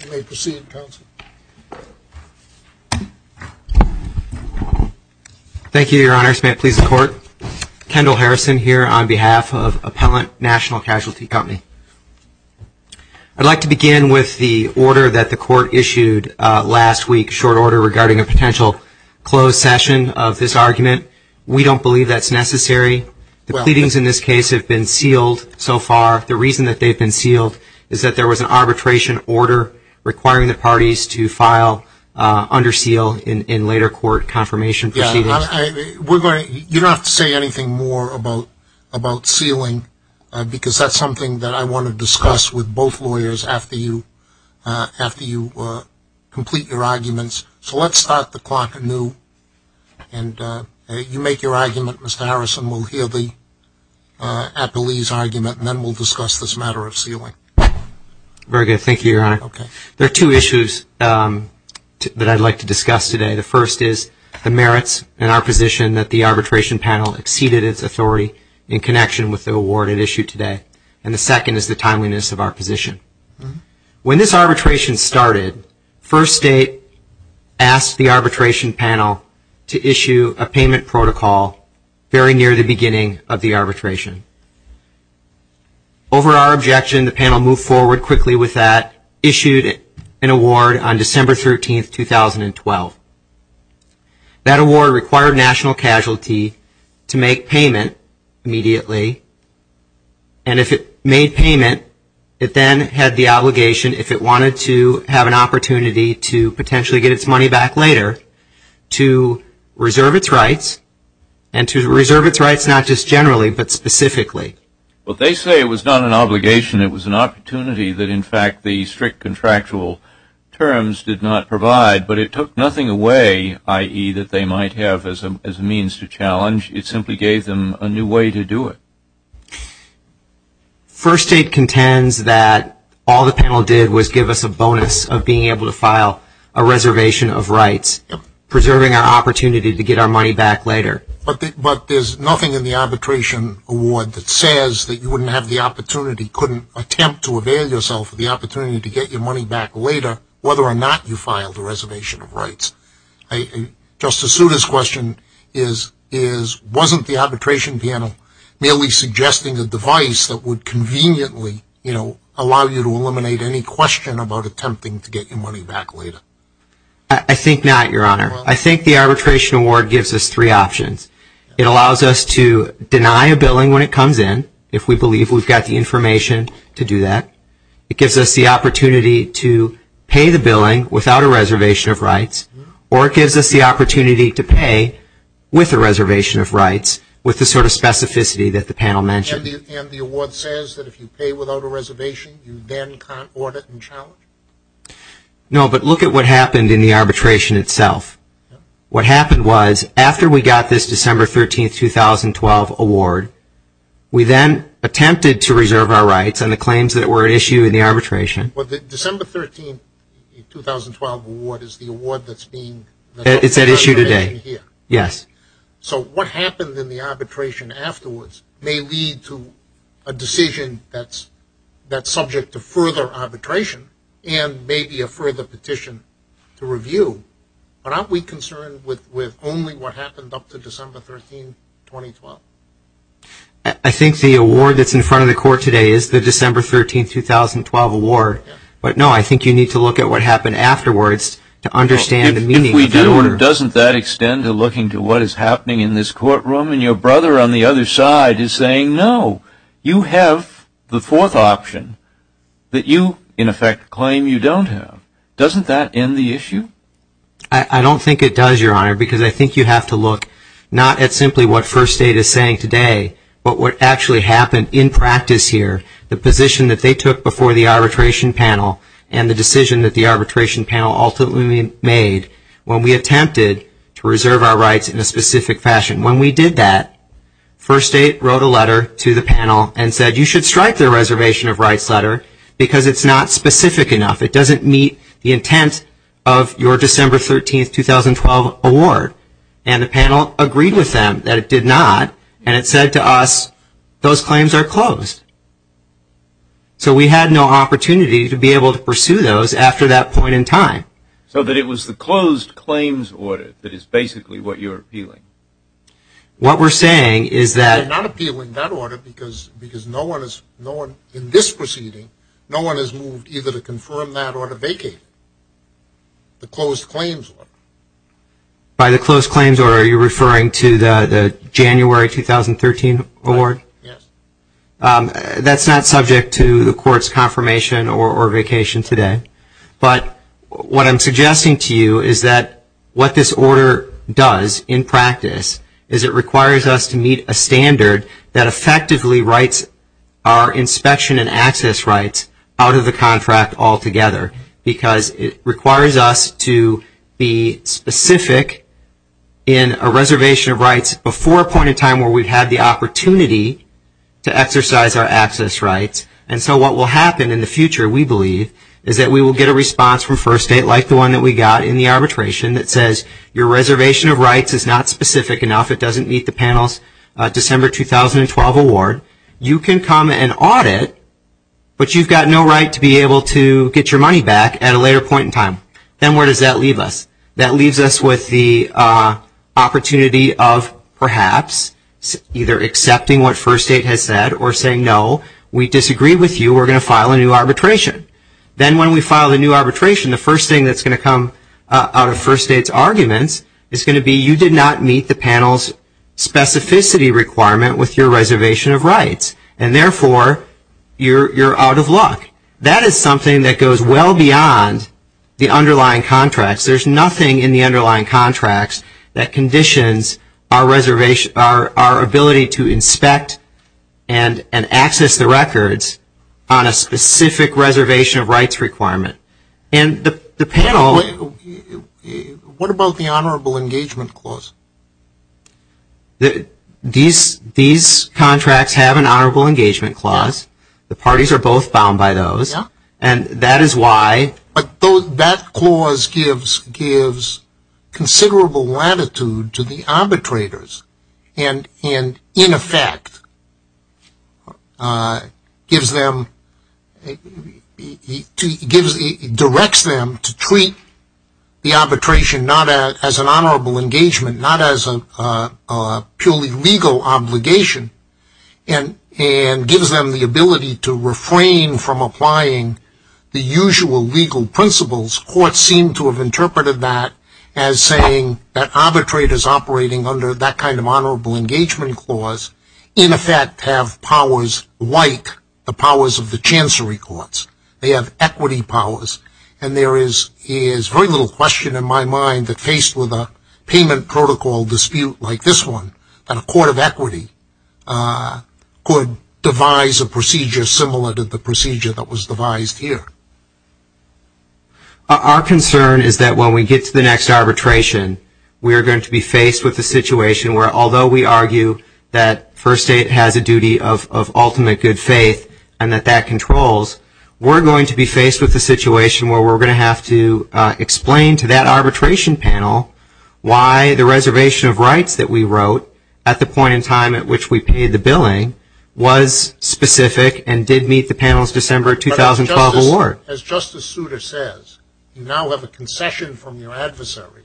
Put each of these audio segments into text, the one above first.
I'd like to begin with the order that the court issued last week, short order regarding a potential closed session of this argument. We don't believe that's necessary. The pleadings in this case have been sealed so far. The reason that they've been sealed is that there was an arbitration order requiring the parties to file under seal in later court confirmation proceedings. You don't have to say anything more about sealing because that's something that I want to discuss with both lawyers after you complete your arguments. So let's start the clock anew. And you make your argument. Mr. Harrison will hear the appellees' argument and then we'll discuss this matter of sealing. Very good. Thank you, Your Honor. Okay. There are two issues that I'd like to discuss today. The first is the merits and our position that the arbitration panel exceeded its authority in connection with the award it issued today. And the second is the timeliness of our position. When this arbitration started, First State asked the arbitration panel to issue a payment protocol very near the beginning of the arbitration. Over our objection, the panel moved forward quickly with that, issued an award on December 13, 2012. That award required National Casualty to make payment immediately. And if it made payment, it then had the obligation, if it wanted to have an opportunity to potentially get its money back later, to reserve its rights, and to reserve its rights not just generally but specifically. Well, they say it was not an obligation. It was an opportunity that, in fact, the strict contractual terms did not provide. But it took nothing away, i.e., that they might have as a means to challenge. It simply gave them a new way to do it. First State contends that all the panel did was give us a bonus of being able to file a reservation of rights, preserving our opportunity to get our money back later. But there's nothing in the arbitration award that says that you wouldn't have the opportunity, couldn't attempt to avail yourself of the opportunity to get your money back later whether or not you filed a reservation of rights. Justice Souter's question is, wasn't the arbitration panel merely suggesting a device that would conveniently allow you to eliminate any question about attempting to get your money back later? I think not, Your Honor. I think the arbitration award gives us three options. It allows us to deny a billing when it comes in, if we believe we've got the information to do that. It gives us the opportunity to pay the billing without a reservation of rights. Or it gives us the opportunity to pay with a reservation of rights, with the sort of specificity that the panel mentioned. And the award says that if you pay without a reservation, you then can't audit and challenge? No, but look at what happened in the arbitration itself. What happened was, after we got this December 13, 2012 award, we then attempted to reserve our rights on the claims that were at issue in the arbitration. But the December 13, 2012 award is the award that's being... It's at issue today, yes. So what happened in the arbitration afterwards may lead to a decision that's subject to further arbitration and maybe a further petition to review. But aren't we concerned with only what happened up to December 13, 2012? I think the award that's in front of the court today is the December 13, 2012 award. But no, I think you need to look at what happened afterwards to understand the meaning of that award. If we do, doesn't that extend to looking to what is happening in this courtroom and your brother on the other side is saying, no, you have the fourth option that you, in effect, claim you don't have. Doesn't that end the issue? I don't think it does, Your Honor, because I think you have to look not at simply what First Aid is saying today, but what actually happened in practice here, the position that they took before the arbitration panel and the decision that the arbitration panel ultimately made when we attempted to reserve our rights in a specific fashion. When we did that, First Aid wrote a letter to the panel and said, you should strike the reservation of rights letter because it's not specific enough. It doesn't meet the intent of your December 13, 2012 award. And the panel agreed with them that it did not, and it said to us, those claims are closed. So we had no opportunity to be able to pursue those after that point in time. So that it was the closed claims order that is basically what you're appealing. What we're saying is that We're not appealing that order because no one in this proceeding, no one has moved either to confirm that or to vacate the closed claims order. By the closed claims order, are you referring to the January 2013 award? Yes. That's not subject to the court's confirmation or vacation today. But what I'm suggesting to you is that what this order does in practice is it requires us to meet a standard that all together. Because it requires us to be specific in a reservation of rights before a point in time where we've had the opportunity to exercise our access rights. And so what will happen in the future, we believe, is that we will get a response from First Aid like the one that we got in the arbitration that says, your reservation of rights is not specific enough. It doesn't meet the panel's December 2012 award. You can come and audit, but you've got no right to be able to get your money back at a later point in time. Then where does that leave us? That leaves us with the opportunity of perhaps either accepting what First Aid has said or saying, no, we disagree with you. We're going to file a new arbitration. Then when we file a new arbitration, the first thing that's going to come out of First Aid's arguments is going to be you did not meet the panel's specificity requirement with your reservation of rights. And therefore, you're out of luck. That is something that goes well beyond the underlying contracts. There's nothing in the underlying contracts that conditions our ability to inspect and access the records on a specific reservation of rights requirement. And the panel... The underlying contracts have an honorable engagement clause. The parties are both bound by those. And that is why... That clause gives considerable latitude to the arbitrators and, in effect, directs them to treat the arbitration not as an honorable engagement, not as a purely legal obligation, and gives them the ability to refrain from applying the usual legal principles. Courts seem to have interpreted that as saying that arbitrators operating under that kind of honorable engagement clause, in effect, have powers like the powers of the Chancery Courts. They have equity powers. And there is very little question in my mind that faced with a payment protocol dispute like this one, that a court of equity could devise a procedure similar to the procedure that was devised here. Our concern is that when we get to the next arbitration, we are going to be faced with a situation where, although we argue that First State has a duty of ultimate good faith and that that controls, we're going to be faced with a situation where we're going to have to explain to that arbitration panel why the reservation of rights that we wrote at the point in time at which we paid the billing was specific and did meet the panel's December 2012 award. As Justice Souter says, you now have a concession from your adversary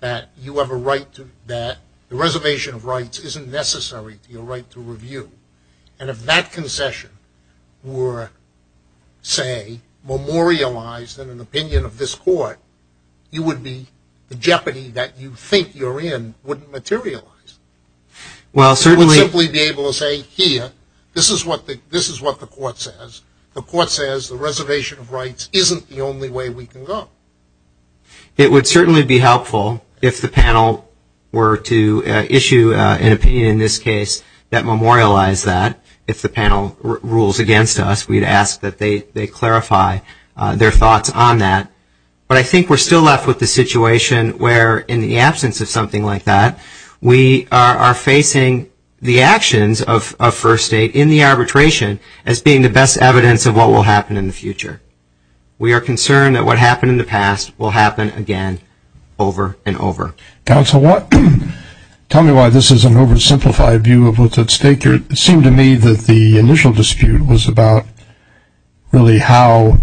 that you have a right to... that the reservation of rights isn't necessary to your right to review. And if that concession were, say, memorialized in an opinion of this court, you would be... the jeopardy that you think you're in wouldn't materialize. Well, certainly... You wouldn't simply be able to say, here, this is what the court says. The court says the reservation of rights isn't the only way we can go. It would certainly be helpful if the panel were to issue an opinion in this case that the panel rules against us. We'd ask that they clarify their thoughts on that. But I think we're still left with the situation where, in the absence of something like that, we are facing the actions of First State in the arbitration as being the best evidence of what will happen in the future. We are concerned that what happened in the past will happen again, over and over. Counsel Watt, tell me why this is an oversimplified view of what's at stake here. It seemed to me that the initial dispute was about, really, how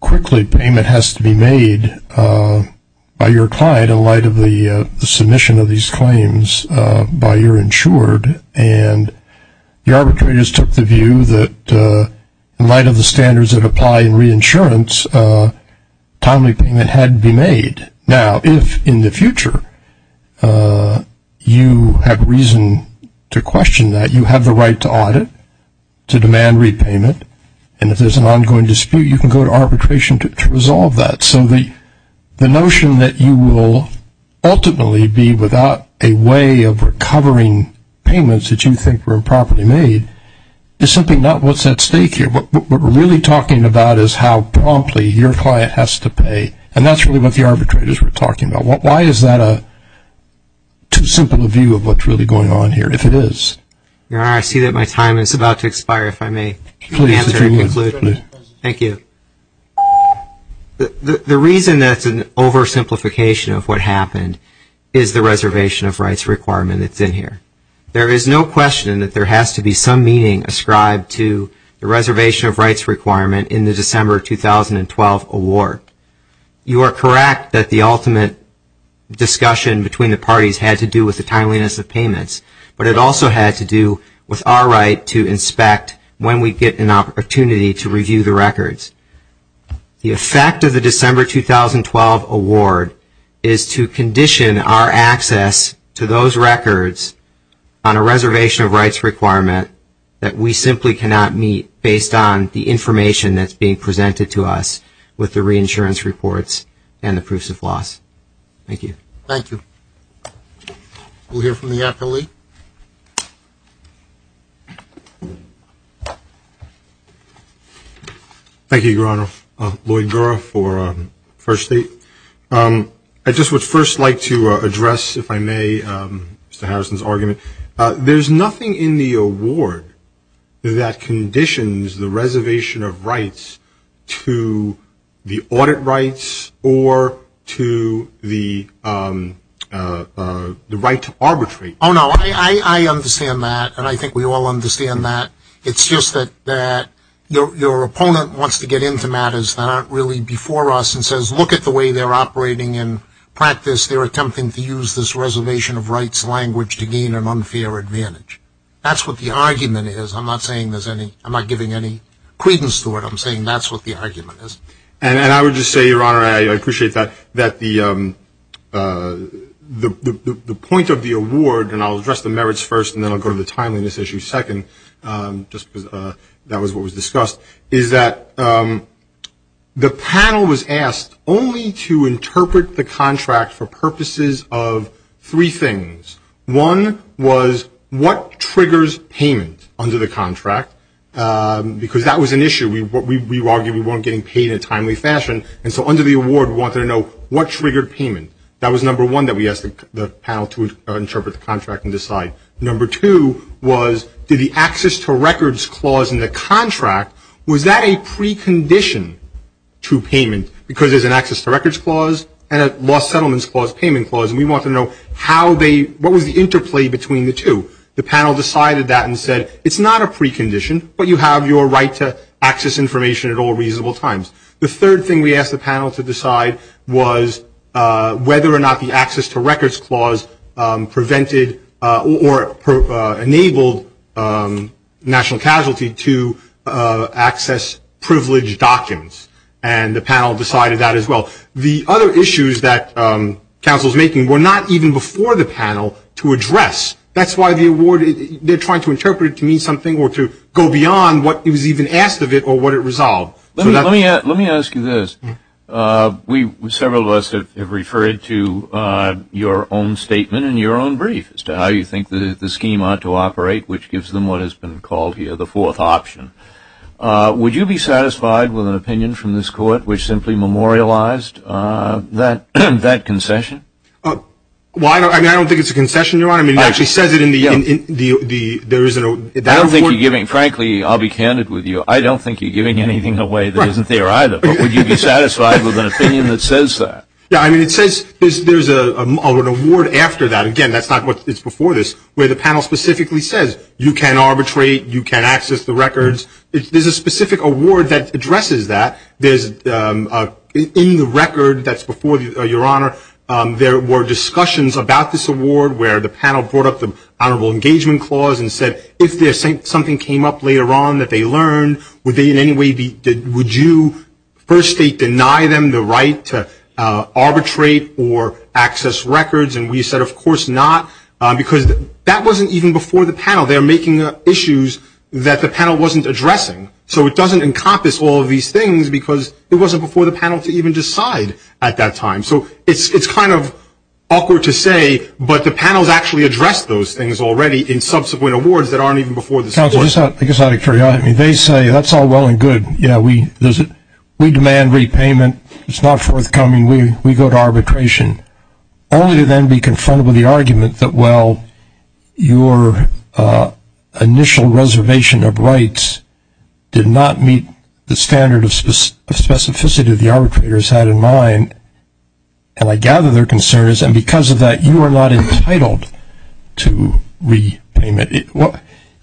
quickly payment has to be made by your client in light of the submission of these claims by your insured. And the arbitrators took the view that, in light of the standards that apply in reinsurance, timely payment had to be made. Now, if, in the future, you have reason to question that, you have the right to audit, to demand repayment, and if there's an ongoing dispute, you can go to arbitration to resolve that. So the notion that you will ultimately be without a way of recovering payments that you think were improperly made is simply not what's at stake here. What we're really talking about is how promptly your client has to pay, and that's really what the arbitrators were talking about. Why is that a too simple a view of what's really going on here, if it is? Your Honor, I see that my time is about to expire, if I may answer and conclude. Thank you. The reason that's an oversimplification of what happened is the reservation of rights requirement that's in here. There is no question that there has to be some meaning ascribed to the reservation of rights requirement in the December 2012 award. You are correct that the ultimate discussion between the parties had to do with the timeliness of payments, but it also had to do with our right to inspect when we get an opportunity to review the records. The effect of the December 2012 award is to condition our access to those records on a reservation of rights requirement that we simply cannot meet based on the information that's being presented to us with the reinsurance reports and the proofs of loss. Thank you. Thank you. We'll hear from the appellee. Thank you, Your Honor. Lloyd Gura for First State. I just would first like to address, if I may, Mr. Harrison's argument. There's nothing in the award that conditions the reservation of rights to the audit rights or to the right to arbitrate. Oh, no, I understand that, and I think we all understand that. It's just that your opponent wants to get into matters that aren't really before us and says, look at the way they're operating in practice. They're attempting to use this reservation of rights language to gain an unfair advantage. That's what the argument is. I'm not saying there's any, I'm not giving any credence to it. I'm saying that's what the argument is. And I would just say, Your Honor, I appreciate that the point of the award, and I'll address the merits first, and then I'll go to the timeliness issue second, just because that was what was discussed, is that the panel was asked only to interpret the contract for purposes of three things. One was what triggers payment under the contract, because that was an issue. We argued we weren't getting paid in a timely fashion, and so under the award, we wanted to know what triggered payment. That was number one that we asked the panel to interpret the contract and decide. Number two was, did the access to records clause in the contract, was that a precondition to payment? Because there's an access to records clause and a lost settlements clause payment clause, and we wanted to know how they, what was the interplay between the two? The panel decided that and said, it's not a precondition, but you have your right to access information at all reasonable times. The third thing we asked the panel to decide was whether or not the access to records clause prevented or enabled national casualty to access privileged documents, and the panel decided that as well. The other issues that counsel is making were not even before the panel to address. That's why the award, they're trying to interpret it to mean something or to go beyond what it was even asked of it or what it resolved. Let me ask you this, several of us have referred to your own statement in your own brief as to how you think the scheme ought to operate, which gives them what has been called here the fourth option. Would you be satisfied with an opinion from this court which simply memorialized that concession? Well, I don't think it's a concession, Your Honor. I mean, it actually says it in the, there is a, I don't think you're giving, frankly, I'll be candid with you, I don't think you're giving anything away that isn't there either, but would you be satisfied with an opinion that says that? Yeah, I mean, it says, there's an award after that, again, that's not what, it's before this, where the panel specifically says, you can arbitrate, you can access the records. There's a specific award that addresses that. There's, in the record that's before, Your Honor, there were discussions about this award where the panel brought up the Honorable Engagement Clause and said, if something came up later on that they learned, would they in any way be, would you first state deny them the right to arbitrate or access records? And we said, of course not, because that wasn't even before the panel. They're making up issues that the panel wasn't addressing. So it doesn't encompass all of these things because it wasn't before the panel to even decide at that time. So it's kind of awkward to say, but the panel's actually addressed those things already in subsequent awards that aren't even before this award. Counselor, I guess I'd like to, I mean, they say that's all well and good, yeah, we demand repayment, it's not forthcoming, we go to arbitration, only to then be confronted with the argument that, well, your initial reservation of rights did not meet the standard of specificity the arbitrators had in mind, and I gather their concerns, and because of that you are not entitled to repayment.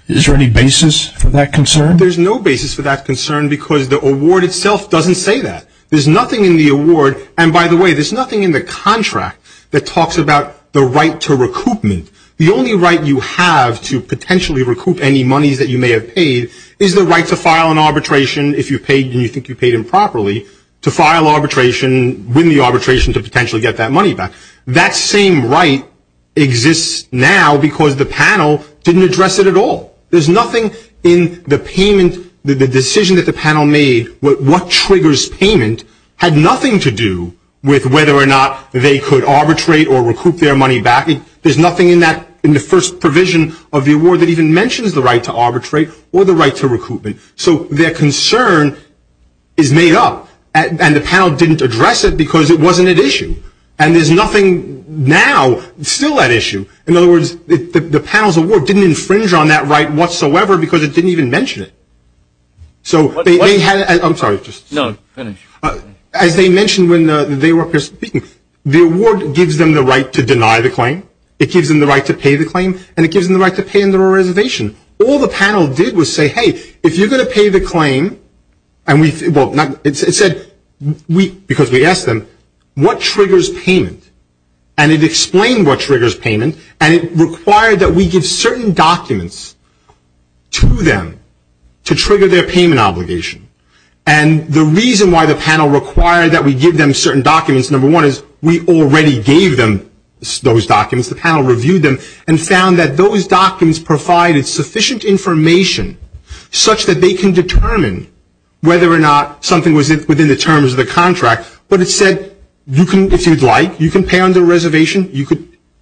Is there any basis for that concern? There's no basis for that concern because the award itself doesn't say that. There's nothing in the award, and by the way, there's nothing in the contract that talks about the right to recoupment. The only right you have to potentially recoup any monies that you may have paid is the right to file an arbitration if you paid and you think you paid improperly, to file arbitration, win the arbitration to potentially get that money back. That same right exists now because the panel didn't address it at all. There's nothing in the payment, the decision that the panel made, what triggers payment, had nothing to do with whether or not they could arbitrate or recoup their money back. There's nothing in the first provision of the award that even mentions the right to arbitrate or the right to recoupment. So their concern is made up, and the panel didn't address it because it wasn't at issue, and there's nothing now, still at issue. In other words, the panel's award didn't infringe on that right whatsoever because it didn't even mention it. So they had, I'm sorry, as they mentioned when they were speaking, the award gives them the right to deny the claim, it gives them the right to pay the claim, and it gives them the right to pay under a reservation. All the panel did was say, hey, if you're going to pay the claim, and it said, because we asked them, what triggers payment? And it explained what triggers payment, and it required that we give certain documents to them to trigger their payment obligation. And the reason why the panel required that we give them certain documents, number one, is we already gave them those documents, the panel reviewed them, and found that those documents provided sufficient information such that they can determine whether or not something was within the terms of the contract. But it said, if you'd like, you can pay under a reservation.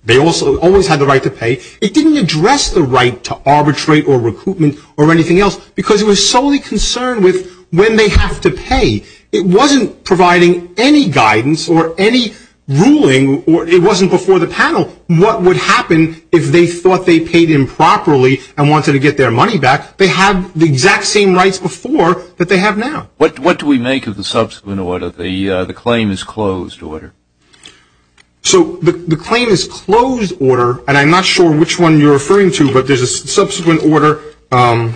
They also always had the right to pay. It didn't address the right to arbitrate or recoupment or anything else because it was solely concerned with when they have to pay. It wasn't providing any guidance or any ruling, or it wasn't before the panel what would happen if they thought they paid improperly and wanted to get their money back. They had the exact same rights before that they have now. What do we make of the subsequent order, the claim is closed order? So the claim is closed order, and I'm not sure which one you're referring to, but there's a subsequent order,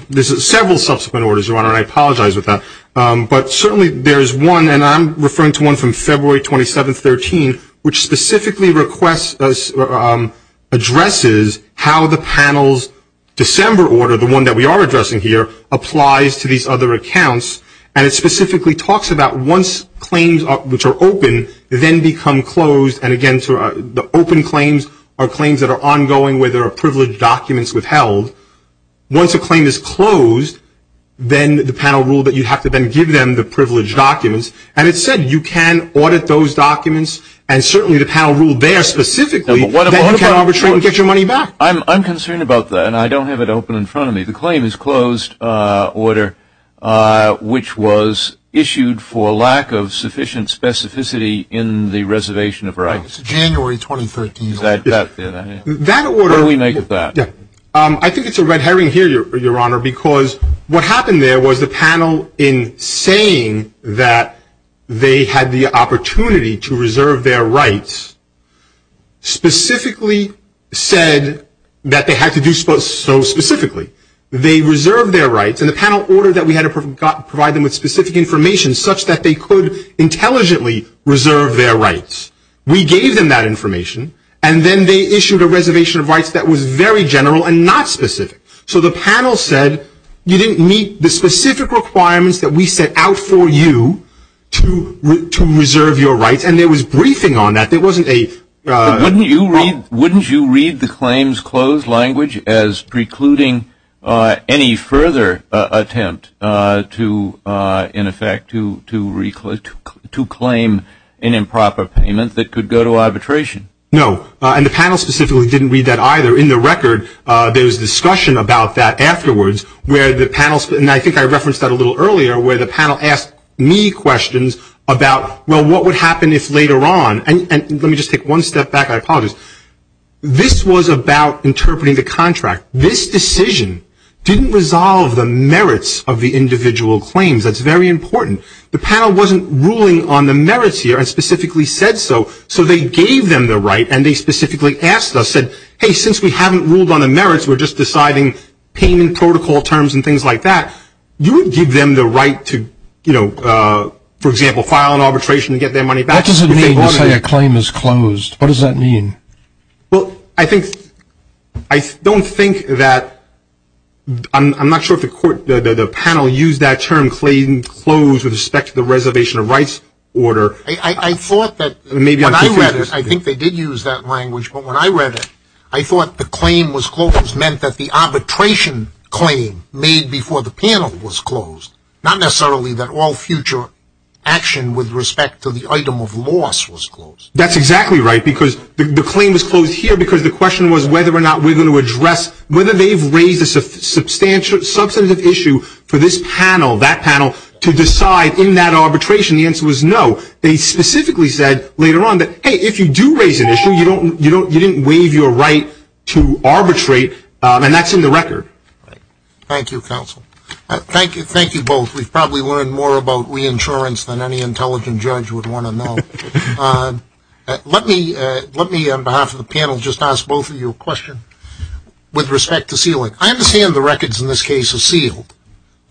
there's several subsequent orders, Your Honor, and I apologize for that. But certainly there's one, and I'm referring to one from February 27, 2013, which specifically requests, addresses how the panel's December order, the one that we are addressing here, applies to these other accounts. And it specifically talks about once claims which are open then become closed, and again, the open claims are claims that are ongoing where there are privileged documents withheld. Once a claim is closed, then the panel ruled that you have to then give them the privileged documents, and it said you can audit those documents, and certainly the panel ruled there specifically that you can arbitrate and get your money back. I'm concerned about that, and I don't have it open in front of me. The claim is closed order, which was issued for lack of sufficient specificity in the reservation of rights. It's January 2013. That order. What do we make of that? I think it's a red herring here, Your Honor, because what happened there was the panel in saying that they had the opportunity to reserve their rights specifically said that they had to do so specifically. They reserved their rights, and the panel ordered that we had to provide them with specific information such that they could intelligently reserve their rights. We gave them that information, and then they issued a reservation of rights that was very general and not specific. So the panel said you didn't meet the specific requirements that we set out for you to reserve your rights, and there was briefing on that. There wasn't a... language as precluding any further attempt to, in effect, to claim an improper payment that could go to arbitration. No, and the panel specifically didn't read that either. In the record, there was discussion about that afterwards, where the panel, and I think I referenced that a little earlier, where the panel asked me questions about, well, what would happen if later on, and let me just take one step back, I apologize. This was about interpreting the contract. This decision didn't resolve the merits of the individual claims. That's very important. The panel wasn't ruling on the merits here and specifically said so, so they gave them the right, and they specifically asked us, said, hey, since we haven't ruled on the merits, we're just deciding payment protocol terms and things like that. You would give them the right to, you know, for example, file an arbitration and get their money back if they wanted to. What does it mean to say a claim is closed? What does that mean? Well, I think, I don't think that, I'm not sure if the panel used that term, claim closed with respect to the reservation of rights order. I thought that, when I read it, I think they did use that language, but when I read it, I thought the claim was closed meant that the arbitration claim made before the panel was closed, not necessarily that all future action with respect to the item of loss was closed. That's exactly right, because the claim was closed here because the question was whether or not we're going to address, whether they've raised a substantial, substantive issue for this panel, that panel, to decide in that arbitration. The answer was no. They specifically said later on that, hey, if you do raise an issue, you don't, you didn't waive your right to arbitrate, and that's in the record. Thank you, counsel. Thank you. Thank you both. We've probably learned more about reinsurance than any intelligent judge would want to know. Let me, let me, on behalf of the panel, just ask both of you a question with respect to sealing. I understand the records in this case are sealed,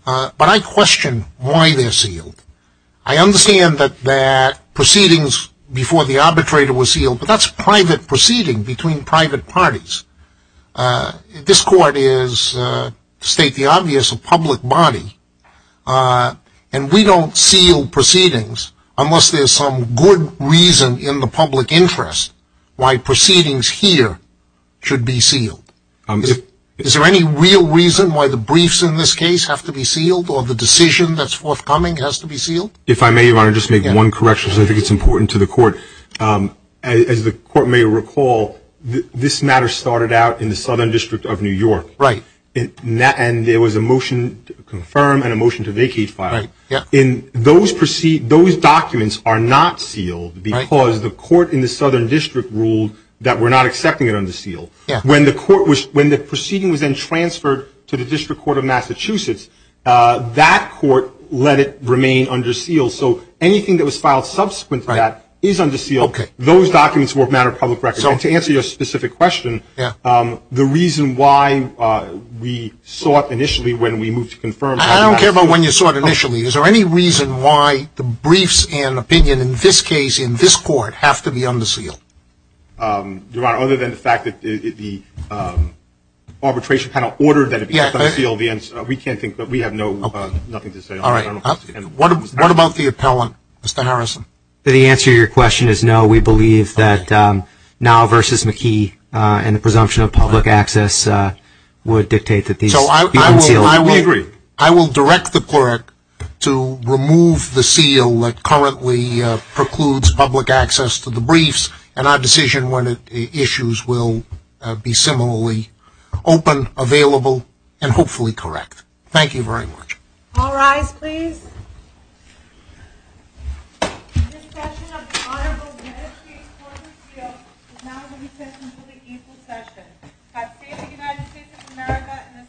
but I question why they're sealed. I understand that proceedings before the arbitrator were sealed, but that's private proceeding between private parties. This court is, to state the obvious, a public body, and we don't seal proceedings unless there's some good reason in the public interest why proceedings here should be sealed. Is there any real reason why the briefs in this case have to be sealed, or the decision that's forthcoming has to be sealed? If I may, Your Honor, just make one correction, because I think it's important to the court. As the court may recall, this matter started out in the Southern District of New York, and there was a motion to confirm and a motion to vacate file. Those documents are not sealed because the court in the Southern District ruled that we're not accepting it under seal. When the court was, when the proceeding was then transferred to the District Court of Massachusetts, that court let it remain under seal, so anything that was filed subsequent to that is under seal. Those documents were a matter of public record, so to answer your specific question, the reason why we sought initially when we moved to confirm. I don't care about when you sought initially. Is there any reason why the briefs and opinion in this case, in this court, have to be under seal? Your Honor, other than the fact that the arbitration panel ordered that it be under seal, we can't think, we have nothing to say on that. What about the appellant, Mr. Harrison? The answer to your question is no. We believe that now versus McKee and the presumption of public access would dictate that these be unsealed. We agree. I will direct the clerk to remove the seal that currently precludes public access to the briefs, and our decision when it issues will be similarly open, available, and hopefully correct. Thank you very much. All rise, please. This session of the Honorable Benesky Court of Appeal is now going to be sent to the equal session. I say to the United States of America and this Honorable Court.